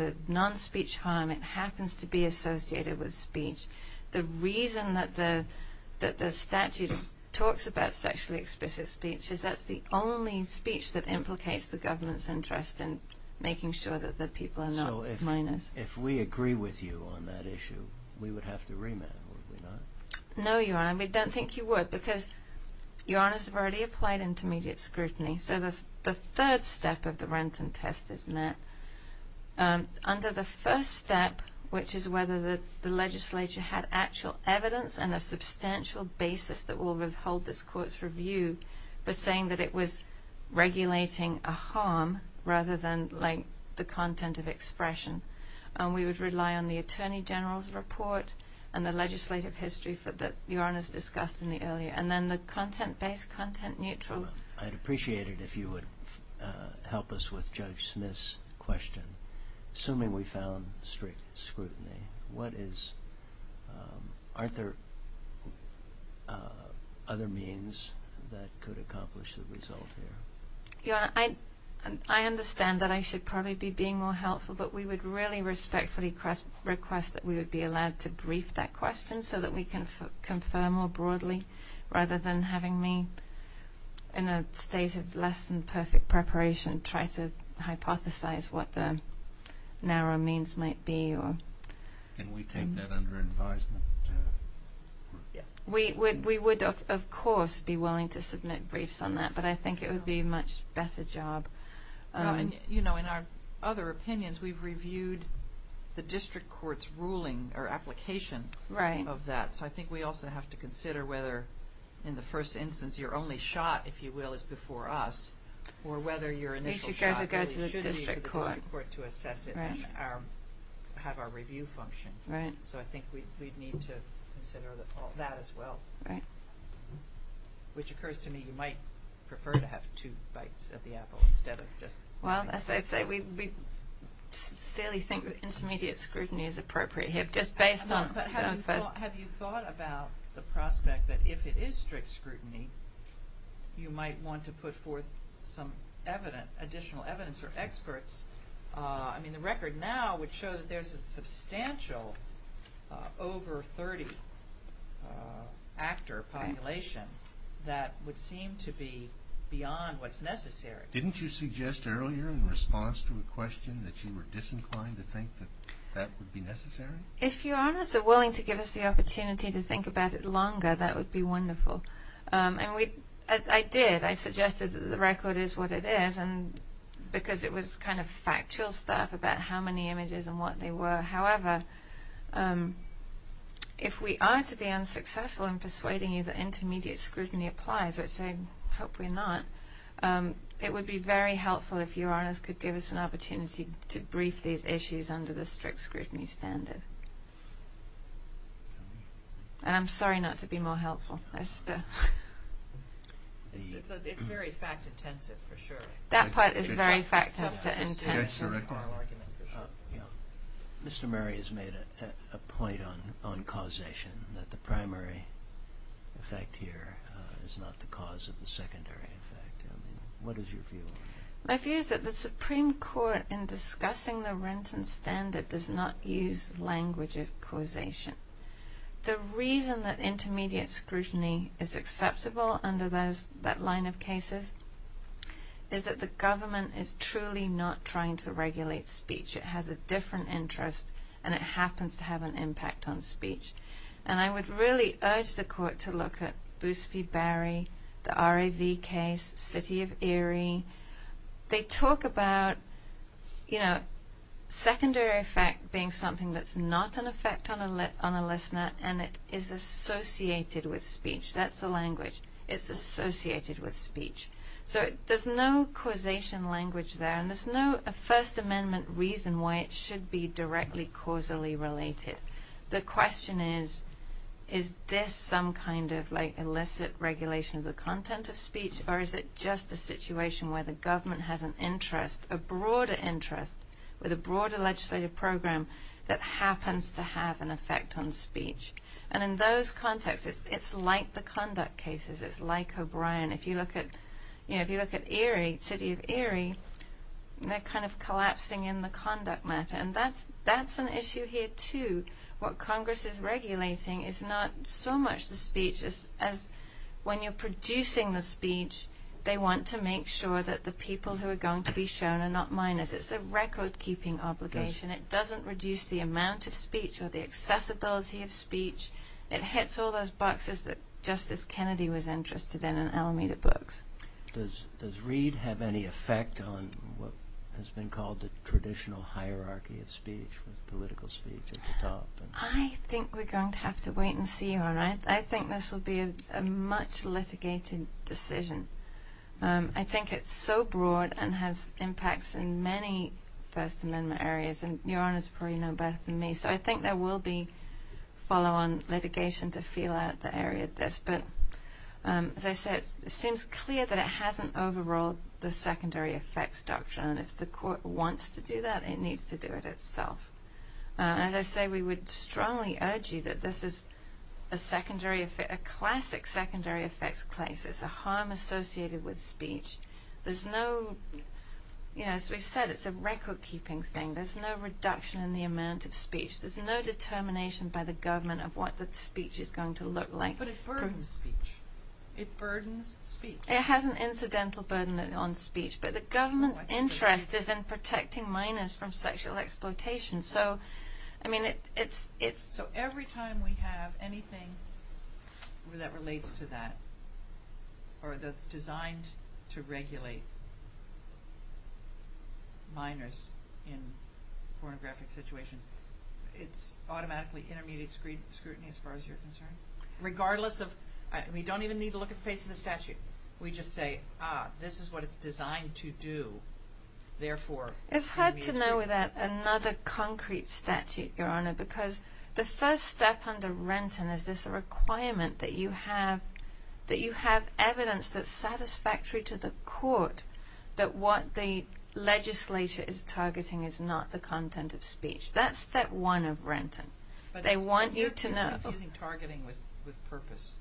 a non-speech harm. It happens to be associated with speech. The reason that the statute talks about sexually explicit speech is that's the only speech that implicates the government's interest in making sure that the people are not minors. So if we agree with you on that issue, we would have to remand, would we not? No, Your Honor, we don't think you would, because Your Honors have already applied intermediate scrutiny. So the third step of the Renton test is met. Under the first step, which is whether the legislature had actual evidence and a substantial basis that will withhold this court's review for saying that it was regulating a harm rather than, like, the content of expression. We would rely on the Attorney General's report and the legislative history that Your Honors discussed in the earlier. And then the content-based, content-neutral. I'd appreciate it if you would help us with Judge Smith's question. Assuming we found strict scrutiny, aren't there other means that could accomplish the result here? Your Honor, I understand that I should probably be being more helpful, but we would really respectfully request that we would be allowed to brief that question so that we can confirm more broadly rather than having me, in a state of less than perfect preparation, try to hypothesize what the narrow means might be. Can we take that under advisement? We would, of course, be willing to submit briefs on that, but I think it would be a much better job. You know, in our other opinions, we've reviewed the district court's ruling or application of that. So I think we also have to consider whether, in the first instance, your only shot, if you will, is before us, or whether your initial shot really should be to the district court to assess it and have our review function. So I think we'd need to consider that as well. Which occurs to me you might prefer to have two bites of the apple instead of just briefs. Well, as I say, we sincerely think that intermediate scrutiny is appropriate here. But have you thought about the prospect that if it is strict scrutiny, you might want to put forth some additional evidence or experts? I mean, the record now would show that there's a substantial over 30-actor population that would seem to be beyond what's necessary. Didn't you suggest earlier in response to a question that you were disinclined to think that that would be necessary? If Your Honors are willing to give us the opportunity to think about it longer, that would be wonderful. And I did. I suggested that the record is what it is because it was kind of factual stuff about how many images and what they were. However, if we are to be unsuccessful in persuading you that intermediate scrutiny applies, which I hope we're not, it would be very helpful if Your Honors could give us an opportunity to brief these issues under the strict scrutiny standard. And I'm sorry not to be more helpful. It's very fact-intensive for sure. That part is very fact-intensive. Mr. Murray has made a point on causation, that the primary effect here is not the cause of the secondary effect. What is your view on that? My view is that the Supreme Court, in discussing the Renton Standard, does not use language of causation. The reason that intermediate scrutiny is acceptable under that line of cases is that the government is truly not trying to regulate speech. It has a different interest, and it happens to have an impact on speech. And I would really urge the Court to look at Boosby-Barry, the RAV case, City of Erie. They talk about secondary effect being something that's not an effect on a listener, and it is associated with speech. That's the language. It's associated with speech. So there's no causation language there, and there's no First Amendment reason why it should be directly causally related. The question is, is this some kind of illicit regulation of the content of speech, or is it just a situation where the government has an interest, a broader interest, with a broader legislative program that happens to have an effect on speech? And in those contexts, it's like the conduct cases. It's like O'Brien. If you look at Erie, City of Erie, they're kind of collapsing in the conduct matter. And that's an issue here too. What Congress is regulating is not so much the speech as when you're producing the speech, they want to make sure that the people who are going to be shown are not minors. It's a record-keeping obligation. It doesn't reduce the amount of speech or the accessibility of speech. It hits all those boxes that Justice Kennedy was interested in in Alameda Books. Does Reid have any effect on what has been called the traditional hierarchy of speech, with political speech at the top? I think we're going to have to wait and see, Your Honor. I think this will be a much-litigated decision. I think it's so broad and has impacts in many First Amendment areas, and Your Honor's probably know better than me, so I think there will be follow-on litigation to feel out the area of this. But as I say, it seems clear that it hasn't overruled the secondary effects doctrine, and if the court wants to do that, it needs to do it itself. As I say, we would strongly urge you that this is a classic secondary effects case. It's a harm associated with speech. There's no, you know, as we've said, it's a record-keeping thing. There's no reduction in the amount of speech. There's no determination by the government of what the speech is going to look like. But it burdens speech. It burdens speech. It has an incidental burden on speech, but the government's interest is in protecting minors from sexual exploitation. So, I mean, it's— So every time we have anything that relates to that, or that's designed to regulate minors in pornographic situations, it's automatically intermediate scrutiny as far as you're concerned? Regardless of—we don't even need to look at the face of the statute. We just say, ah, this is what it's designed to do, therefore— It's hard to know without another concrete statute, Your Honor, because the first step under Renton is this requirement that you have evidence that's satisfactory to the court that what the legislature is targeting is not the content of speech. That's step one of Renton. But it's confusing targeting with purpose.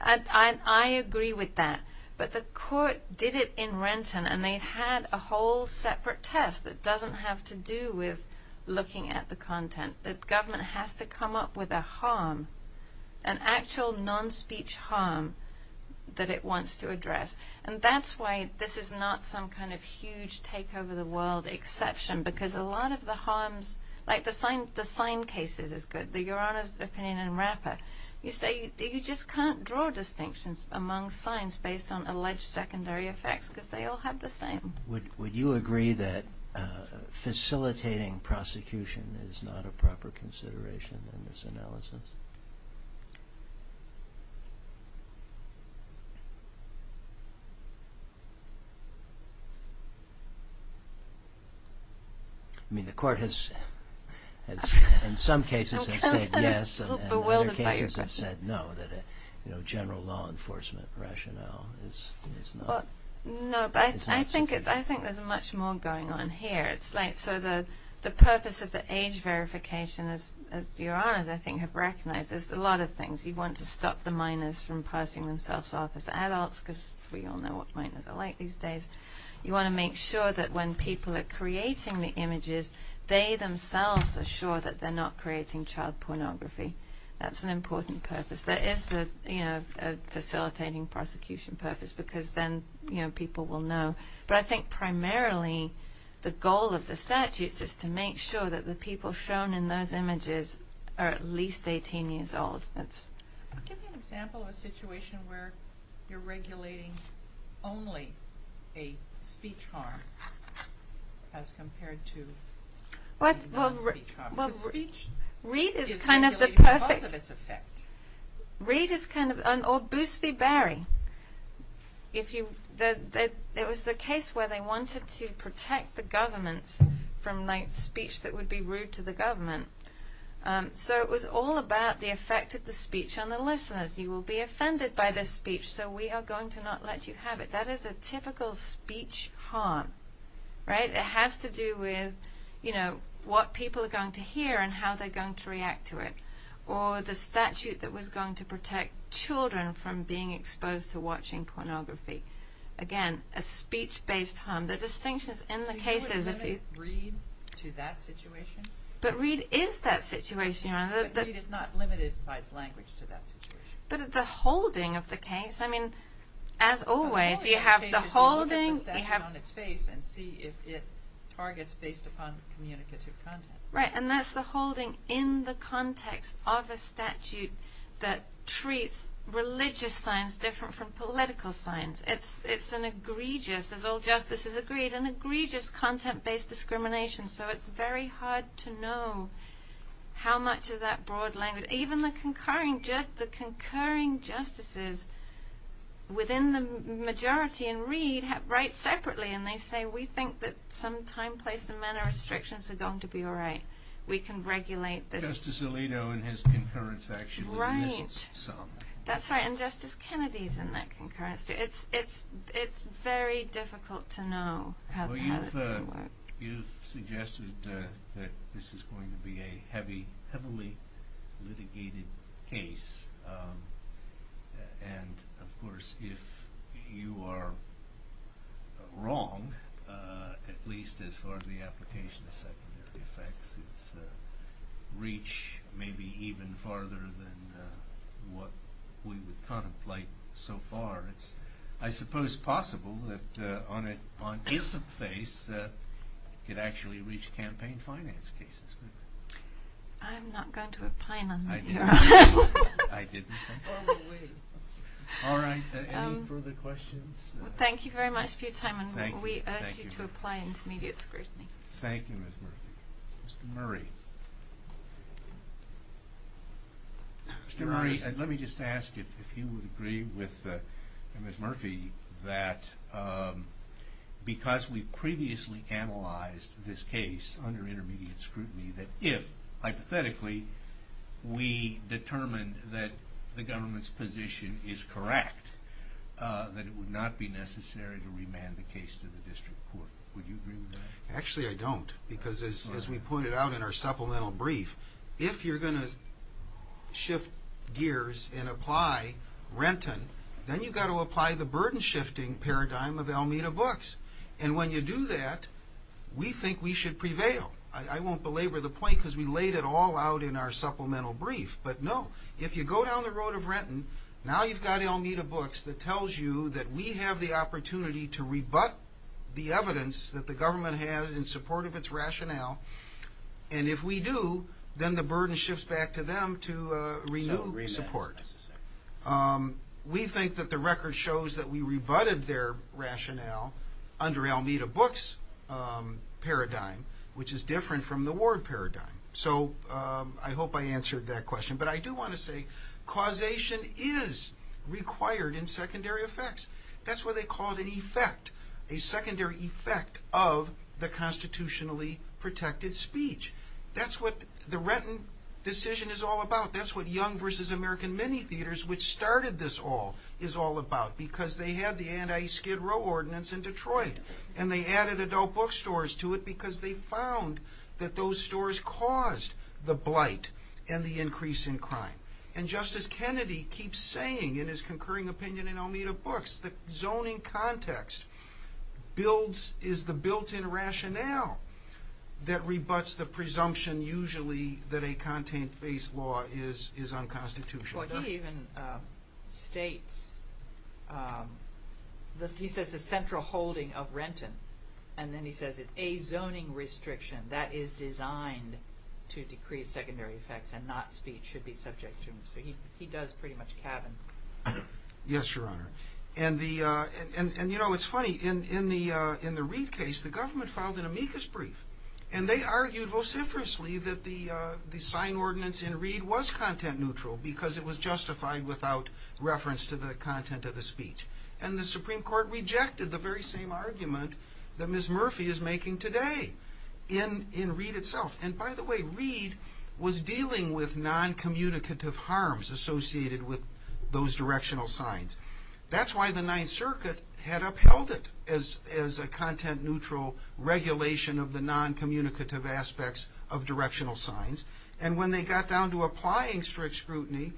I agree with that. But the court did it in Renton, and they had a whole separate test that doesn't have to do with looking at the content. The government has to come up with a harm, an actual non-speech harm that it wants to address. And that's why this is not some kind of huge take-over-the-world exception, because a lot of the harms—like the sign cases is good, the Your Honor's opinion in Rapper. You say you just can't draw distinctions among signs based on alleged secondary effects, because they all have the same. Would you agree that facilitating prosecution is not a proper consideration in this analysis? I mean, the court has in some cases said yes, and in other cases have said no, that a general law enforcement rationale is not— No, but I think there's much more going on here. So the purpose of the age verification, as Your Honors, I think, have recognized, is a lot of things. You want to stop the minors from passing themselves off as adults, because we all know what minors are like these days. You want to make sure that when people are creating the images, they themselves are sure that they're not creating child pornography. That's an important purpose. That is the facilitating prosecution purpose, because then people will know. But I think primarily the goal of the statutes is to make sure that the people shown in those images are at least 18 years old. Give me an example of a situation where you're regulating only a speech harm as compared to a non-speech harm. Because speech is regulated because of its effect. Reed is kind of—or Boosby-Berry. It was the case where they wanted to protect the governments from speech that would be rude to the government. So it was all about the effect of the speech on the listeners. You will be offended by this speech, so we are going to not let you have it. That is a typical speech harm. It has to do with what people are going to hear and how they're going to react to it. Or the statute that was going to protect children from being exposed to watching pornography. Again, a speech-based harm. The distinction is in the cases. So you wouldn't limit Reed to that situation? But Reed is that situation. But Reed is not limited by its language to that situation. But the holding of the case. I mean, as always, you have the holding— The holding of the case is to look at the statute on its face and see if it targets based upon communicative content. Right, and that's the holding in the context of a statute that treats religious signs different from political signs. It's an egregious, as all justices agreed, an egregious content-based discrimination. So it's very hard to know how much of that broad language— even the concurring justices within the majority in Reed write separately, and they say we think that some time, place, and manner of restrictions are going to be all right. We can regulate this. Justice Alito in his concurrence actually missed some. Right, that's right. And Justice Kennedy is in that concurrence, too. It's very difficult to know how that's going to work. You've suggested that this is going to be a heavily litigated case. And, of course, if you are wrong, at least as far as the application of secondary effects, it's reached maybe even farther than what we would contemplate so far. It's, I suppose, possible that on its face, it could actually reach campaign finance cases. I'm not going to opine on that, Your Honor. I didn't think so. All right, any further questions? Thank you very much for your time, and we urge you to apply intermediate scrutiny. Thank you, Ms. Murphy. Mr. Murray. Mr. Murray, let me just ask if you would agree with Ms. Murphy that because we previously analyzed this case under intermediate scrutiny, that if, hypothetically, we determined that the government's position is correct, that it would not be necessary to remand the case to the district court. Would you agree with that? Actually, I don't. Because, as we pointed out in our supplemental brief, if you're going to shift gears and apply Renton, then you've got to apply the burden-shifting paradigm of Almeda Books. And when you do that, we think we should prevail. I won't belabor the point because we laid it all out in our supplemental brief. But, no, if you go down the road of Renton, now you've got Almeda Books that tells you that we have the opportunity to rebut the evidence that the government has in support of its rationale. And if we do, then the burden shifts back to them to renew support. We think that the record shows that we rebutted their rationale under Almeda Books' paradigm, which is different from the Ward paradigm. So I hope I answered that question. But I do want to say causation is required in secondary effects. That's what they called an effect, a secondary effect of the constitutionally protected speech. That's what the Renton decision is all about. That's what Young v. American Mini Theaters, which started this all, is all about. Because they had the anti-Skid Row ordinance in Detroit. And they added adult bookstores to it because they found that those stores caused the blight and the increase in crime. And Justice Kennedy keeps saying in his concurring opinion in Almeda Books that zoning context is the built-in rationale that rebuts the presumption usually that a content-based law is unconstitutional. He even states, he says the central holding of Renton, and then he says a zoning restriction that is designed to decrease secondary effects and not speech, should be subject to him. So he does pretty much cabin. Yes, Your Honor. And you know, it's funny. In the Reid case, the government filed an amicus brief. And they argued vociferously that the sign ordinance in Reid was content-neutral because it was justified without reference to the content of the speech. And the Supreme Court rejected the very same argument that Ms. Murphy is making today in Reid itself. And by the way, Reid was dealing with noncommunicative harms associated with those directional signs. That's why the Ninth Circuit had upheld it as a content-neutral regulation of the noncommunicative aspects of directional signs. And when they got down to applying strict scrutiny,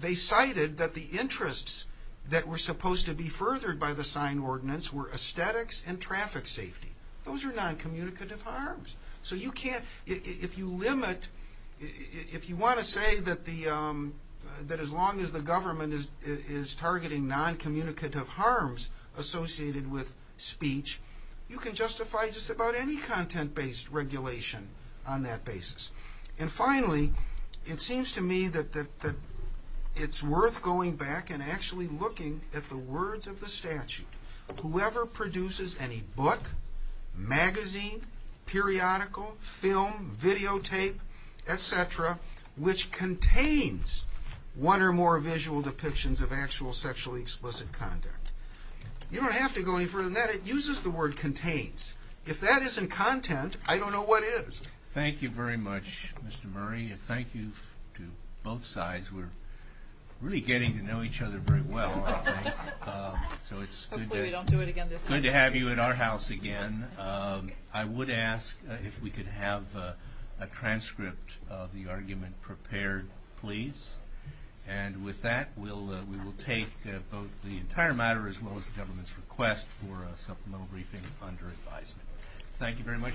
they cited that the interests that were supposed to be furthered by the sign ordinance were aesthetics and traffic safety. Those are noncommunicative harms. So you can't, if you limit, if you want to say that as long as the government is targeting noncommunicative harms associated with speech, you can justify just about any content-based regulation on that basis. And finally, it seems to me that it's worth going back and actually looking at the words of the statute. Whoever produces any book, magazine, periodical, film, videotape, etc., which contains one or more visual depictions of actual sexually explicit conduct. You don't have to go any further than that. It uses the word contains. If that isn't content, I don't know what is. Thank you very much, Mr. Murray, and thank you to both sides. We're really getting to know each other very well. So it's good to have you at our house again. I would ask if we could have a transcript of the argument prepared, please. And with that, we will take both the entire matter as well as the government's request for a supplemental briefing under advisement. Thank you very much.